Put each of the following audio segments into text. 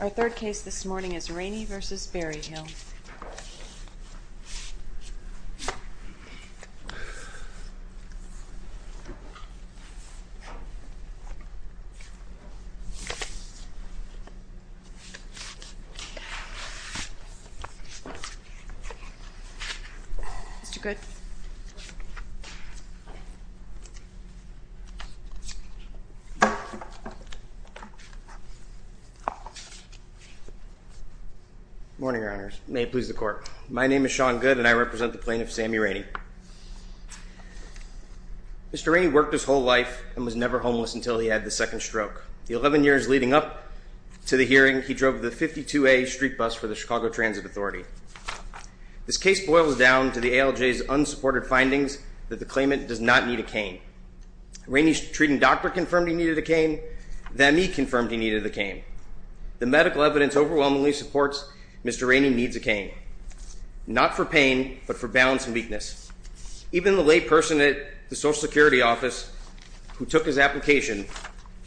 Our third case this morning is Rainey v. Berryhill. Morning, Your Honors. May it please the Court. My name is Sean Goode and I represent the plaintiff, Sammie Rainey. Mr. Rainey worked his whole life and was never homeless until he had the second stroke. The 11 years leading up to the hearing, he drove the 52A street bus for the Chicago Transit Authority. This case boils down to the ALJ's unsupported findings that the claimant does not need a cane. Rainey's treating doctor confirmed he needed a cane. The ME confirmed he needed a cane. The medical evidence overwhelmingly supports Mr. Rainey needs a cane, not for pain but for balance and weakness. Even the lay person at the Social Security office who took his application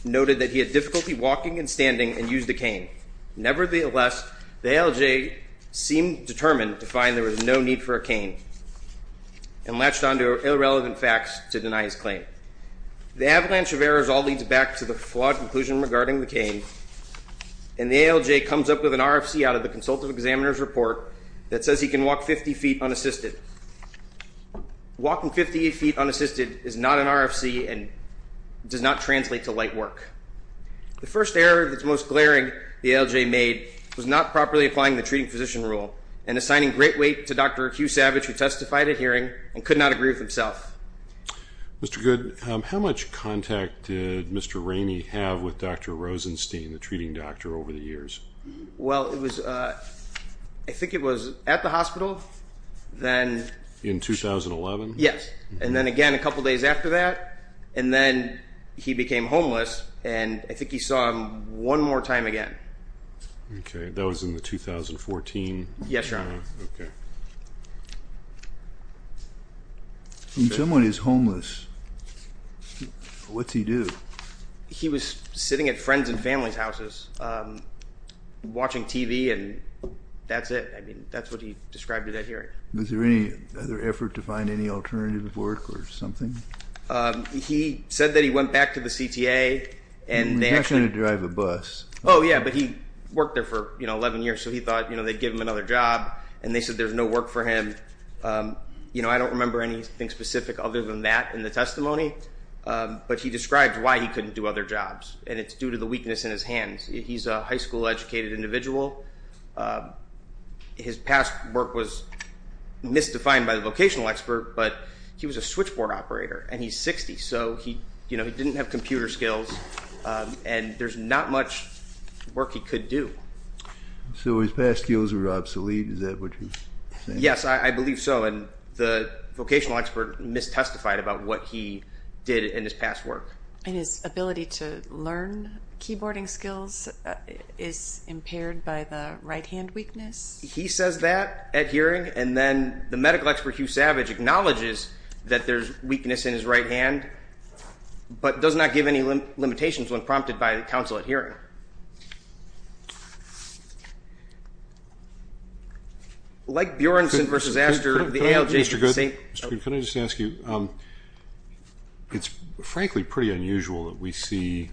noted that he had difficulty walking and standing and used a cane. Nevertheless, the ALJ seemed determined to find there was no need for a cane and latched onto irrelevant facts to deny his claim. The avalanche of errors all leads back to the flawed conclusion regarding the cane and the ALJ comes up with an RFC out of the Consultative Examiner's Report that says he can walk 50 feet unassisted. Walking 50 feet unassisted is not an RFC and does not translate to light work. The first error that's most glaring the ALJ made was not properly applying the treating physician rule and assigning great weight to Dr. Hugh Savage who testified at hearing and could not agree with himself. Mr. Goode, how much contact did Mr. Rainey have with Dr. Rosenstein, the treating doctor, over the years? Well, I think it was at the hospital. In 2011? Yes, and then again a couple days after that and then he became homeless and I think he saw him one more time again. Okay, that was in the 2014? Yes, Your Honor. Okay. When someone is homeless, what's he do? He was sitting at friends and family's houses watching TV and that's it. I mean, that's what he described at that hearing. Was there any other effort to find any alternative work or something? He said that he went back to the CTA and they actually... He's not going to drive a bus. Oh, yeah, but he worked there for 11 years so he thought they'd give him another job and they said there's no work for him. I don't remember anything specific other than that in the testimony, but he described why he couldn't do other jobs and it's due to the weakness in his hands. He's a high school educated individual. His past work was misdefined by the vocational expert, but he was a switchboard operator and he's 60, so he didn't have computer skills and there's not much work he could do. So his past skills were obsolete, is that what he's saying? Yes, I believe so, and the vocational expert mistestified about what he did in his past work. And his ability to learn keyboarding skills is impaired by the right hand weakness? He says that at hearing and then the medical expert, Hugh Savage, acknowledges that there's weakness in his right hand but does not give any limitations when prompted by counsel at hearing. Like Bjornson v. Astor, the ALJ... Mr. Goode, can I just ask you, it's frankly pretty unusual that we see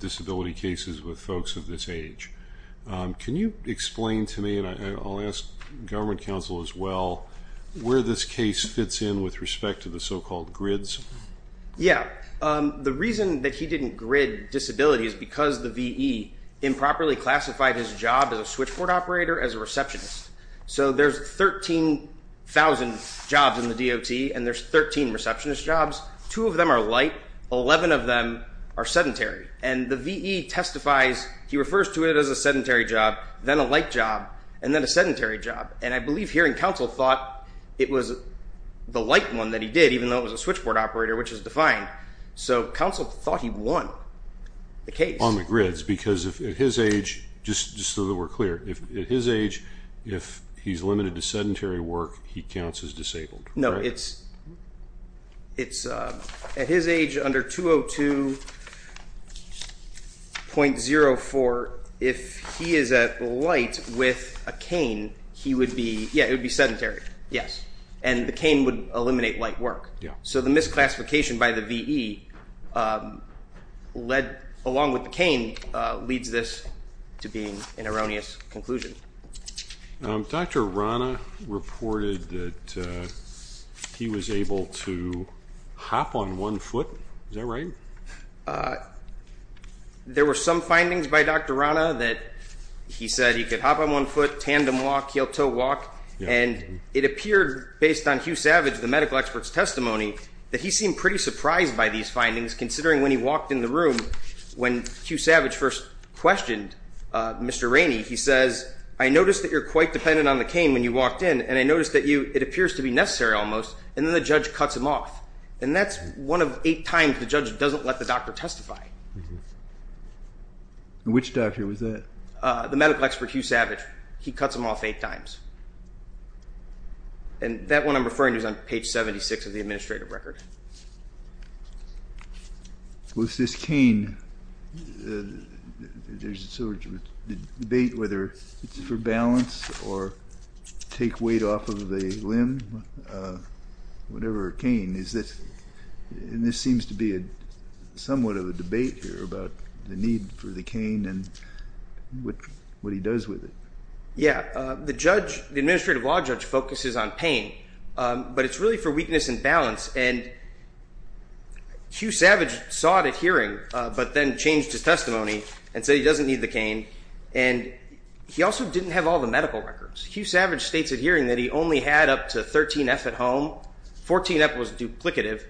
disability cases with folks of this age. Can you explain to me, and I'll ask government counsel as well, where this case fits in with respect to the so-called grids? Yeah. The reason that he didn't grid disability is because the V.E. improperly classified his job as a switchboard operator as a receptionist. So there's 13,000 jobs in the DOT and there's 13 receptionist jobs. Two of them are light, 11 of them are sedentary. And the V.E. testifies, he refers to it as a sedentary job, then a light job, and then a sedentary job. And I believe hearing counsel thought it was the light one that he did, even though it was a switchboard operator, which is defined. So counsel thought he won the case. On the grids, because at his age, just so that we're clear, at his age, if he's limited to sedentary work, he counts as disabled. No, it's at his age under 202.04, if he is at light with a cane, he would be, yeah, it would be sedentary. Yes. And the cane would eliminate light work. So the misclassification by the V.E. led, along with the cane, leads this to being an erroneous conclusion. Dr. Rana reported that he was able to hop on one foot. Is that right? There were some findings by Dr. Rana that he said he could hop on one foot, tandem walk, heel-toe walk, and it appeared, based on Hugh Savage, the medical expert's testimony, that he seemed pretty surprised by these findings, considering when he walked in the room, when Hugh Savage first questioned Mr. Rainey, he says, I noticed that you're quite dependent on the cane when you walked in, and I noticed that it appears to be necessary almost, and then the judge cuts him off. And that's one of eight times the judge doesn't let the doctor testify. Which doctor was that? The medical expert, Hugh Savage. He cuts him off eight times. And that one I'm referring to is on page 76 of the administrative record. With this cane, there's a debate whether it's for balance or take weight off of a limb, whatever a cane is. And this seems to be somewhat of a debate here about the need for the cane and what he does with it. Yeah. The judge, the administrative law judge, focuses on pain, but it's really for weakness and balance. And Hugh Savage saw it at hearing, but then changed his testimony and said he doesn't need the cane. And he also didn't have all the medical records. Hugh Savage states at hearing that he only had up to 13F at home. 14F was duplicative.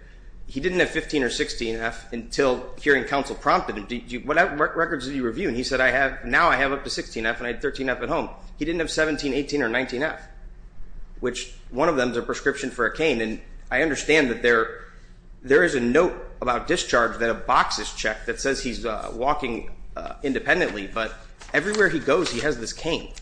He didn't have 15 or 16F until hearing counsel prompted him, what records did you review? And he said, now I have up to 16F, and I had 13F at home. He didn't have 17, 18, or 19F, which one of them is a prescription for a cane. And I understand that there is a note about discharge that a box is checked that says he's walking independently. But everywhere he goes, he has this cane.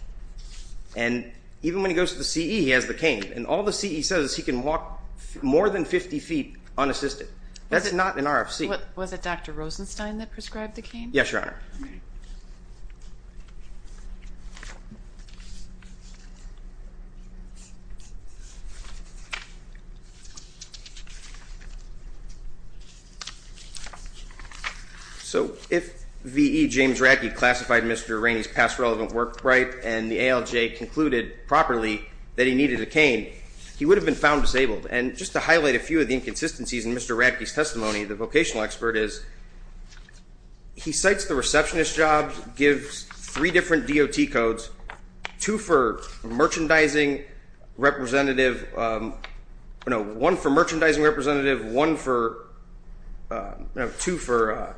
And even when he goes to the CE, he has the cane. And all the CE says is he can walk more than 50 feet unassisted. That's not an RFC. Was it Dr. Rosenstein that prescribed the cane? Yes, Your Honor. Thank you. So if V.E. James Radke classified Mr. Rainey's past relevant work right and the ALJ concluded properly that he needed a cane, he would have been found disabled. And just to highlight a few of the inconsistencies in Mr. Radke's testimony, the vocational expert is he cites the receptionist job, gives three different DOT codes, two for merchandising representative, one for merchandising representative, two for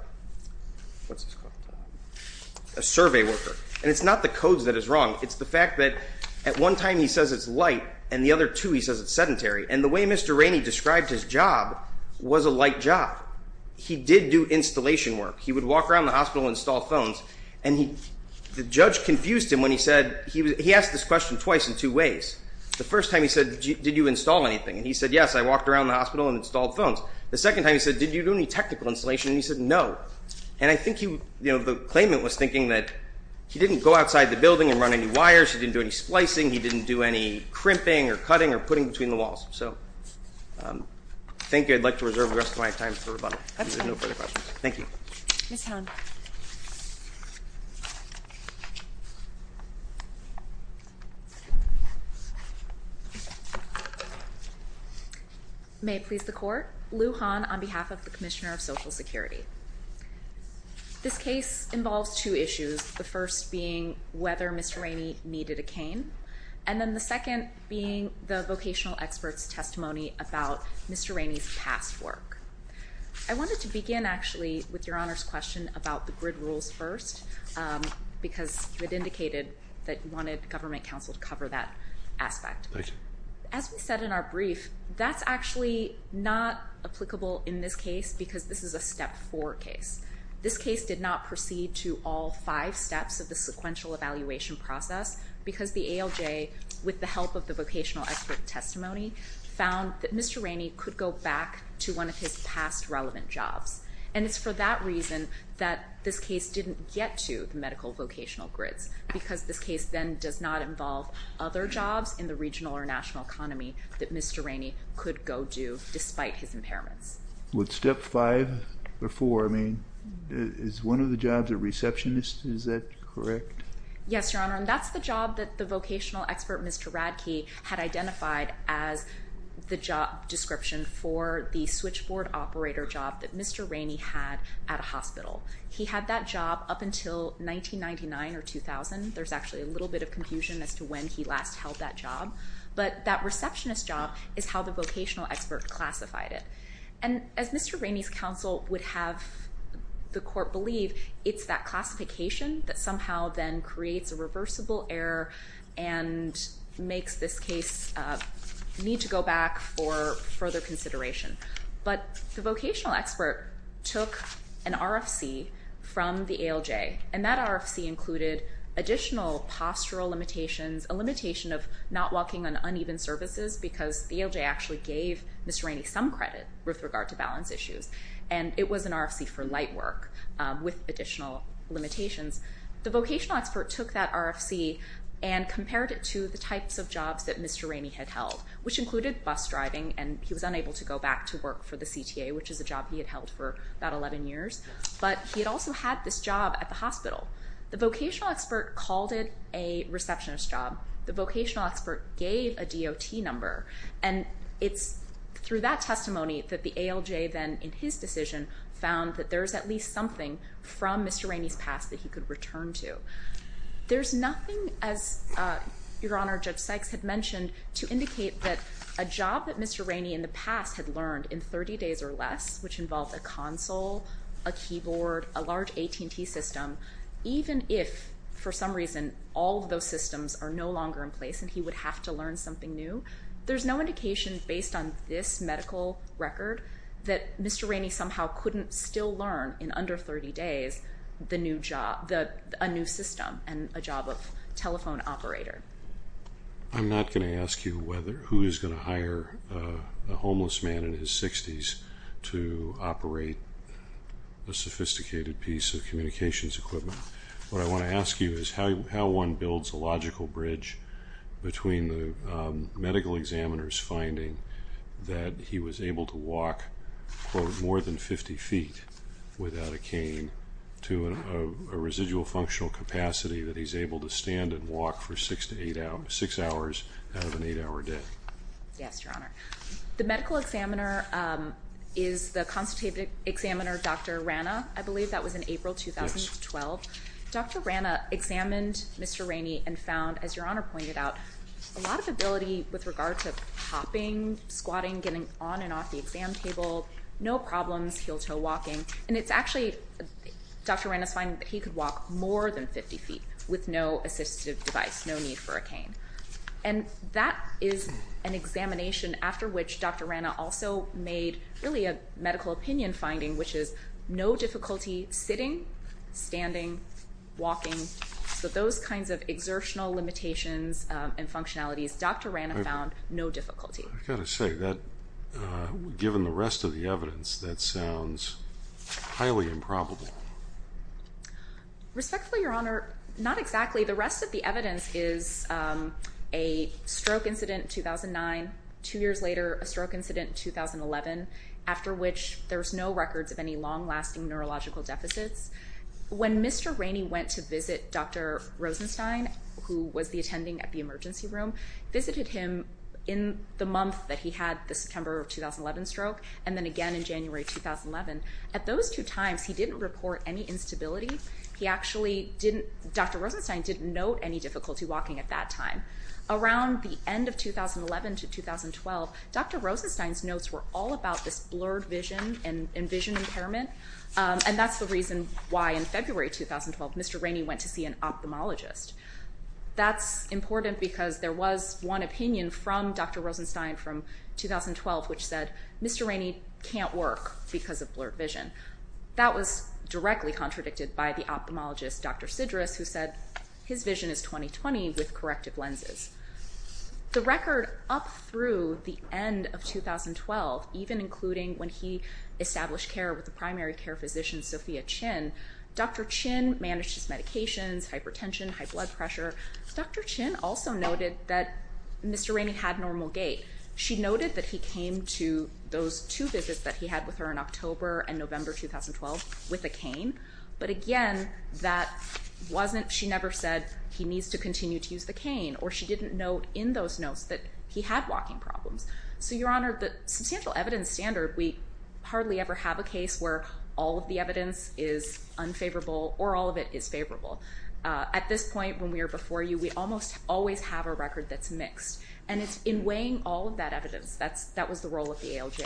a survey worker. And it's not the codes that is wrong. It's the fact that at one time he says it's light, and the other two he says it's sedentary. And the way Mr. Rainey described his job was a light job. He did do installation work. He would walk around the hospital and install phones. And the judge confused him when he said he asked this question twice in two ways. The first time he said, did you install anything? And he said, yes, I walked around the hospital and installed phones. The second time he said, did you do any technical installation? And he said, no. And I think the claimant was thinking that he didn't go outside the building and run any wires. He didn't do any splicing. He didn't do any crimping or cutting or putting between the walls. So I think I'd like to reserve the rest of my time for rebuttal. If there are no further questions. Thank you. Ms. Hahn. May it please the Court. Lou Hahn on behalf of the Commissioner of Social Security. This case involves two issues, the first being whether Mr. Rainey needed a cane, and then the second being the vocational expert's testimony about Mr. Rainey's past work. I wanted to begin, actually, with Your Honor's question about the grid rules first, because you had indicated that you wanted government counsel to cover that aspect. Thank you. As we said in our brief, that's actually not applicable in this case because this is a step four case. This case did not proceed to all five steps of the sequential evaluation process because the ALJ, with the help of the vocational expert testimony, found that Mr. Rainey could go back to one of his past relevant jobs. And it's for that reason that this case didn't get to the medical vocational grids, because this case then does not involve other jobs in the regional or national economy that Mr. Rainey could go do despite his impairments. With step five or four, I mean, is one of the jobs a receptionist? Is that correct? Yes, Your Honor, and that's the job that the vocational expert, Mr. Radke, had identified as the job description for the switchboard operator job that Mr. Rainey had at a hospital. He had that job up until 1999 or 2000. There's actually a little bit of confusion as to when he last held that job. But that receptionist job is how the vocational expert classified it. And as Mr. Rainey's counsel would have the court believe, it's that classification that somehow then creates a reversible error and makes this case need to go back for further consideration. But the vocational expert took an RFC from the ALJ, and that RFC included additional postural limitations, a limitation of not walking on uneven surfaces, because the ALJ actually gave Mr. Rainey some credit with regard to balance issues. And it was an RFC for light work with additional limitations. The vocational expert took that RFC and compared it to the types of jobs that Mr. Rainey had held, which included bus driving, and he was unable to go back to work for the CTA, which is a job he had held for about 11 years. But he had also had this job at the hospital. The vocational expert called it a receptionist job. The vocational expert gave a DOT number. And it's through that testimony that the ALJ then, in his decision, found that there's at least something from Mr. Rainey's past that he could return to. There's nothing, as Your Honor, Judge Sykes had mentioned, to indicate that a job that Mr. Rainey in the past had learned in 30 days or less, which involved a console, a keyboard, a large AT&T system, even if, for some reason, all of those systems are no longer in place and he would have to learn something new, there's no indication based on this medical record that Mr. Rainey somehow couldn't still learn, in under 30 days, a new system and a job of telephone operator. I'm not going to ask you who is going to hire a homeless man in his 60s to operate a sophisticated piece of communications equipment. What I want to ask you is how one builds a logical bridge between the medical examiner's finding that he was able to walk, quote, more than 50 feet without a cane to a residual functional capacity that he's able to stand and walk for six hours out of an eight-hour day. Yes, Your Honor. The medical examiner is the consultative examiner, Dr. Rana, I believe. I believe that was in April 2012. Dr. Rana examined Mr. Rainey and found, as Your Honor pointed out, a lot of ability with regard to hopping, squatting, getting on and off the exam table, no problems heel-toe walking. And it's actually Dr. Rana's finding that he could walk more than 50 feet with no assistive device, no need for a cane. And that is an examination after which Dr. Rana also made really a medical opinion finding, which is no difficulty sitting, standing, walking. So those kinds of exertional limitations and functionalities, Dr. Rana found no difficulty. I've got to say, given the rest of the evidence, that sounds highly improbable. Respectfully, Your Honor, not exactly. The rest of the evidence is a stroke incident in 2009, two years later a stroke incident in 2011, after which there's no records of any long-lasting neurological deficits. When Mr. Rainey went to visit Dr. Rosenstein, who was the attending at the emergency room, visited him in the month that he had the September of 2011 stroke, and then again in January 2011, at those two times he didn't report any instability. He actually didn't, Dr. Rosenstein didn't note any difficulty walking at that time. Around the end of 2011 to 2012, Dr. Rosenstein's notes were all about this blurred vision and vision impairment, and that's the reason why, in February 2012, Mr. Rainey went to see an ophthalmologist. That's important because there was one opinion from Dr. Rosenstein from 2012, which said Mr. Rainey can't work because of blurred vision. That was directly contradicted by the ophthalmologist, Dr. Sidrus, who said his vision is 20-20 with corrective lenses. The record up through the end of 2012, even including when he established care with the primary care physician, Sophia Chin, Dr. Chin managed his medications, hypertension, high blood pressure. Dr. Chin also noted that Mr. Rainey had normal gait. She noted that he came to those two visits that he had with her in October and November 2012 with a cane, but, again, that wasn't she never said he needs to continue to use the cane, or she didn't note in those notes that he had walking problems. So, Your Honor, the substantial evidence standard, we hardly ever have a case where all of the evidence is unfavorable or all of it is favorable. At this point, when we are before you, we almost always have a record that's mixed, and it's in weighing all of that evidence that was the role of the ALJ.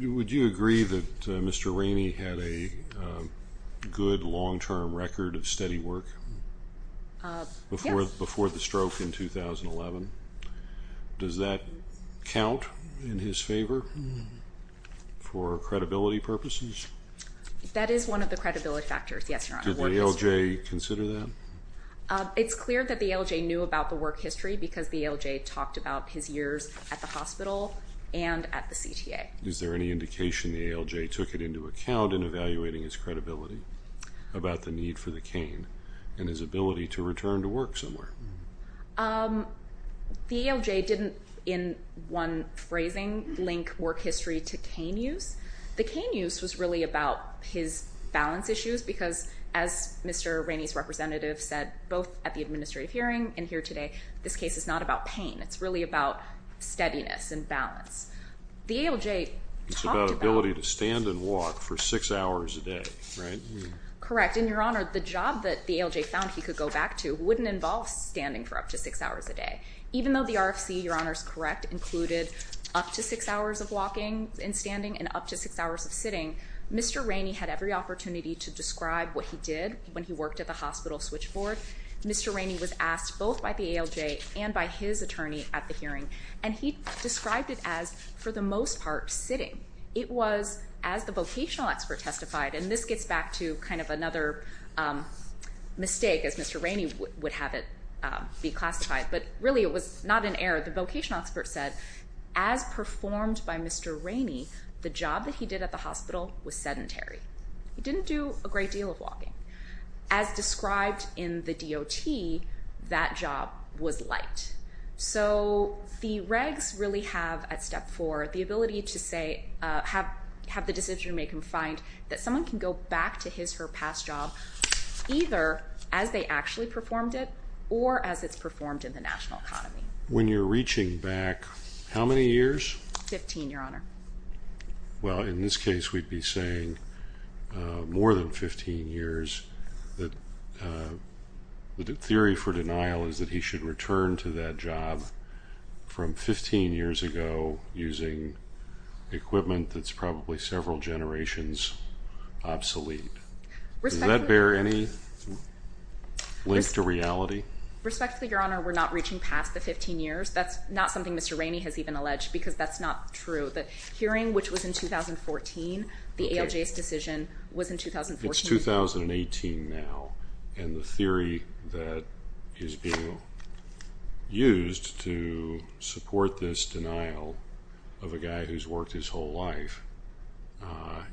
Would you agree that Mr. Rainey had a good long-term record of steady work before the stroke in 2011? Does that count in his favor for credibility purposes? That is one of the credibility factors, yes, Your Honor. Did the ALJ consider that? It's clear that the ALJ knew about the work history because the ALJ talked about his years at the hospital and at the CTA. Is there any indication the ALJ took it into account in evaluating his credibility about the need for the cane and his ability to return to work somewhere? The ALJ didn't, in one phrasing, link work history to cane use. The cane use was really about his balance issues because, as Mr. Rainey's representative said, both at the administrative hearing and here today, this case is not about pain. It's really about steadiness and balance. The ALJ talked about ability to stand and walk for six hours a day, right? Correct, and, Your Honor, the job that the ALJ found he could go back to wouldn't involve standing for up to six hours a day. Even though the RFC, Your Honor is correct, included up to six hours of walking and standing and up to six hours of sitting, Mr. Rainey had every opportunity to describe what he did when he worked at the hospital switchboard. Mr. Rainey was asked both by the ALJ and by his attorney at the hearing, and he described it as, for the most part, sitting. It was, as the vocational expert testified, and this gets back to kind of another mistake, as Mr. Rainey would have it be classified, but really it was not an error. The vocational expert said, as performed by Mr. Rainey, the job that he did at the hospital was sedentary. He didn't do a great deal of walking. As described in the DOT, that job was light. So the regs really have at step four the ability to say, have the decision maker find that someone can go back to his or her past job either as they actually performed it or as it's performed in the national economy. When you're reaching back, how many years? Fifteen, Your Honor. Well, in this case we'd be saying more than 15 years. The theory for denial is that he should return to that job from 15 years ago using equipment that's probably several generations obsolete. Does that bear any link to reality? Respectfully, Your Honor, we're not reaching past the 15 years. That's not something Mr. Rainey has even alleged because that's not true. The hearing, which was in 2014, the ALJ's decision was in 2014. It's 2018 now, and the theory that is being used to support this denial of a guy who's worked his whole life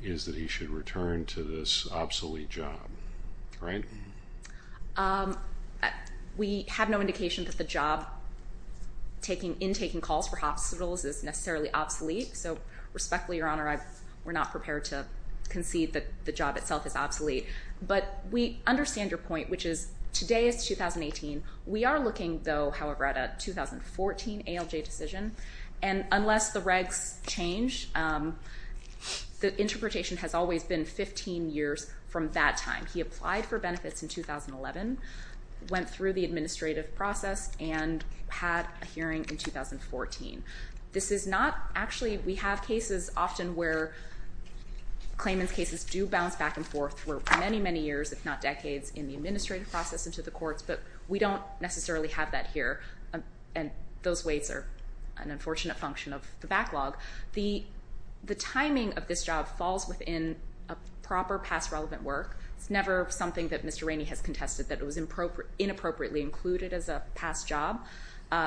is that he should return to this obsolete job, right? We have no indication that the job in taking calls for hospitals is necessarily obsolete, so respectfully, Your Honor, we're not prepared to concede that the job itself is obsolete. But we understand your point, which is today is 2018. We are looking, though, however, at a 2014 ALJ decision, and unless the regs change, the interpretation has always been 15 years from that time. He applied for benefits in 2011, went through the administrative process, and had a hearing in 2014. This is not actually—we have cases often where claimant's cases do bounce back and forth for many, many years, if not decades, in the administrative process into the courts, but we don't necessarily have that here, and those weights are an unfortunate function of the backlog. The timing of this job falls within a proper past relevant work. It's never something that Mr. Rainey has contested that it was inappropriately included as a past job.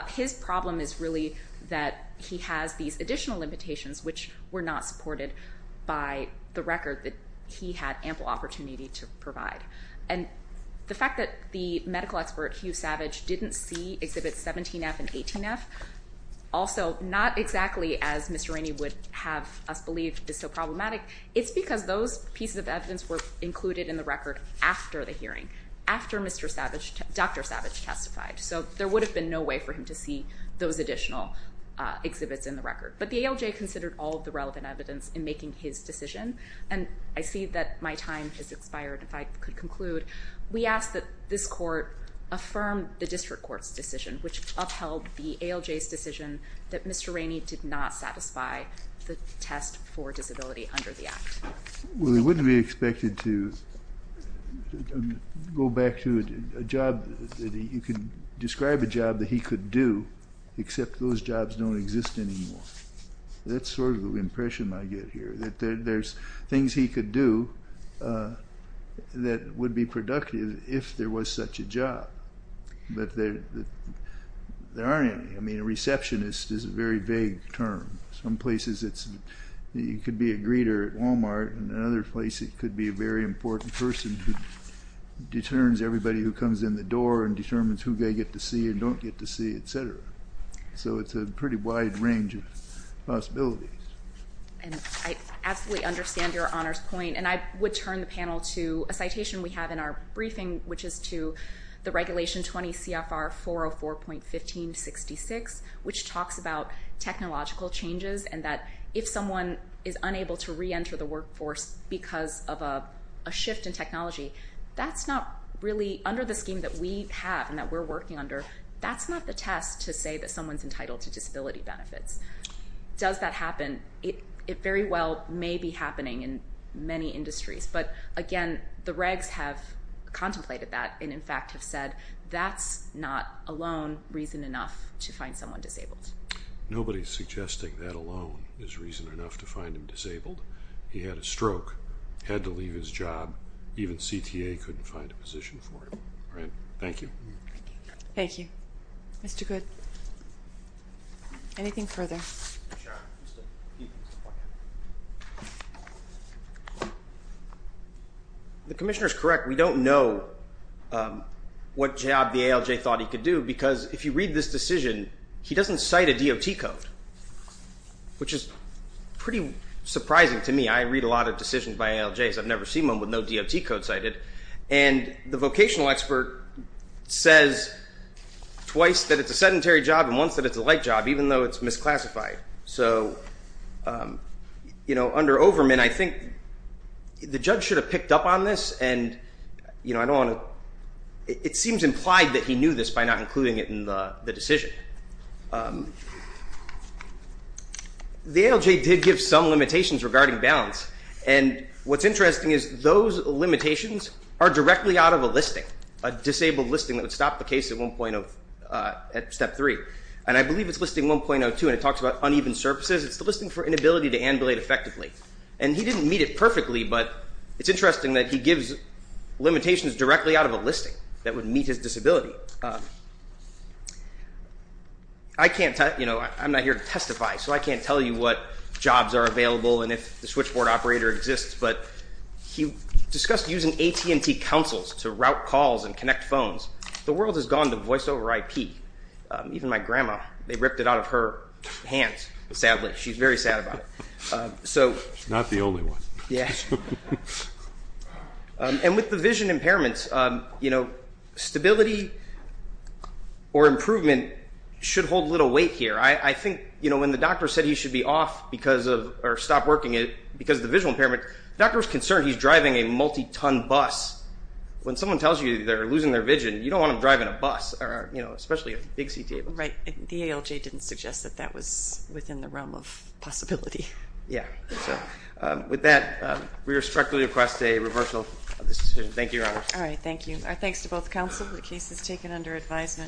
His problem is really that he has these additional limitations, which were not supported by the record that he had ample opportunity to provide. And the fact that the medical expert, Hugh Savage, didn't see Exhibits 17F and 18F, also not exactly as Mr. Rainey would have us believe is so problematic, it's because those pieces of evidence were included in the record after the hearing, after Dr. Savage testified, so there would have been no way for him to see those additional exhibits in the record. But the ALJ considered all of the relevant evidence in making his decision, and I see that my time has expired, if I could conclude. We ask that this court affirm the district court's decision, which upheld the ALJ's decision that Mr. Rainey did not satisfy the test for disability under the Act. Well, he wouldn't be expected to go back to a job that he could describe a job that he could do, except those jobs don't exist anymore. That's sort of the impression I get here, that there's things he could do that would be productive if there was such a job. But there aren't any. I mean, a receptionist is a very vague term. Some places it could be a greeter at Walmart, and in other places it could be a very important person who determines everybody who comes in the door and determines who they get to see and don't get to see, et cetera. So it's a pretty wide range of possibilities. And I absolutely understand Your Honor's point, and I would turn the panel to a citation we have in our briefing, which is to the Regulation 20 CFR 404.1566, which talks about technological changes and that if someone is unable to reenter the workforce because of a shift in technology, that's not really under the scheme that we have and that we're working under. That's not the test to say that someone's entitled to disability benefits. Does that happen? It very well may be happening in many industries. But, again, the regs have contemplated that and, in fact, have said that's not alone reason enough to find someone disabled. Nobody's suggesting that alone is reason enough to find him disabled. He had a stroke, had to leave his job. Even CTA couldn't find a position for him. Thank you. Thank you. Mr. Goode, anything further? Sure. The commissioner is correct. We don't know what job the ALJ thought he could do because if you read this decision, he doesn't cite a DOT code, which is pretty surprising to me. I read a lot of decisions by ALJs. I've never seen one with no DOT code cited. And the vocational expert says twice that it's a sedentary job and once that it's a light job, even though it's misclassified. So, you know, under Overman, I think the judge should have picked up on this. And, you know, I don't want to – it seems implied that he knew this by not including it in the decision. The ALJ did give some limitations regarding balance. And what's interesting is those limitations are directly out of a listing, a disabled listing that would stop the case at one point of – at step three. And I believe it's listing 1.02, and it talks about uneven surfaces. It's the listing for inability to ambulate effectively. And he didn't meet it perfectly, but it's interesting that he gives limitations directly out of a listing that would meet his disability. I can't – you know, I'm not here to testify, so I can't tell you what jobs are available and if the switchboard operator exists. But he discussed using AT&T consoles to route calls and connect phones. The world has gone to voice over IP. Even my grandma, they ripped it out of her hands, sadly. She's very sad about it. She's not the only one. And with the vision impairments, you know, stability or improvement should hold little weight here. I think, you know, when the doctor said he should be off because of – the doctor was concerned he's driving a multi-ton bus. When someone tells you they're losing their vision, you don't want them driving a bus or, you know, especially a big CT. Right. The ALJ didn't suggest that that was within the realm of possibility. Yeah. So with that, we respectfully request a reversal of this decision. Thank you, Your Honor. All right. Thank you. Our thanks to both counsel. The case is taken under advisement.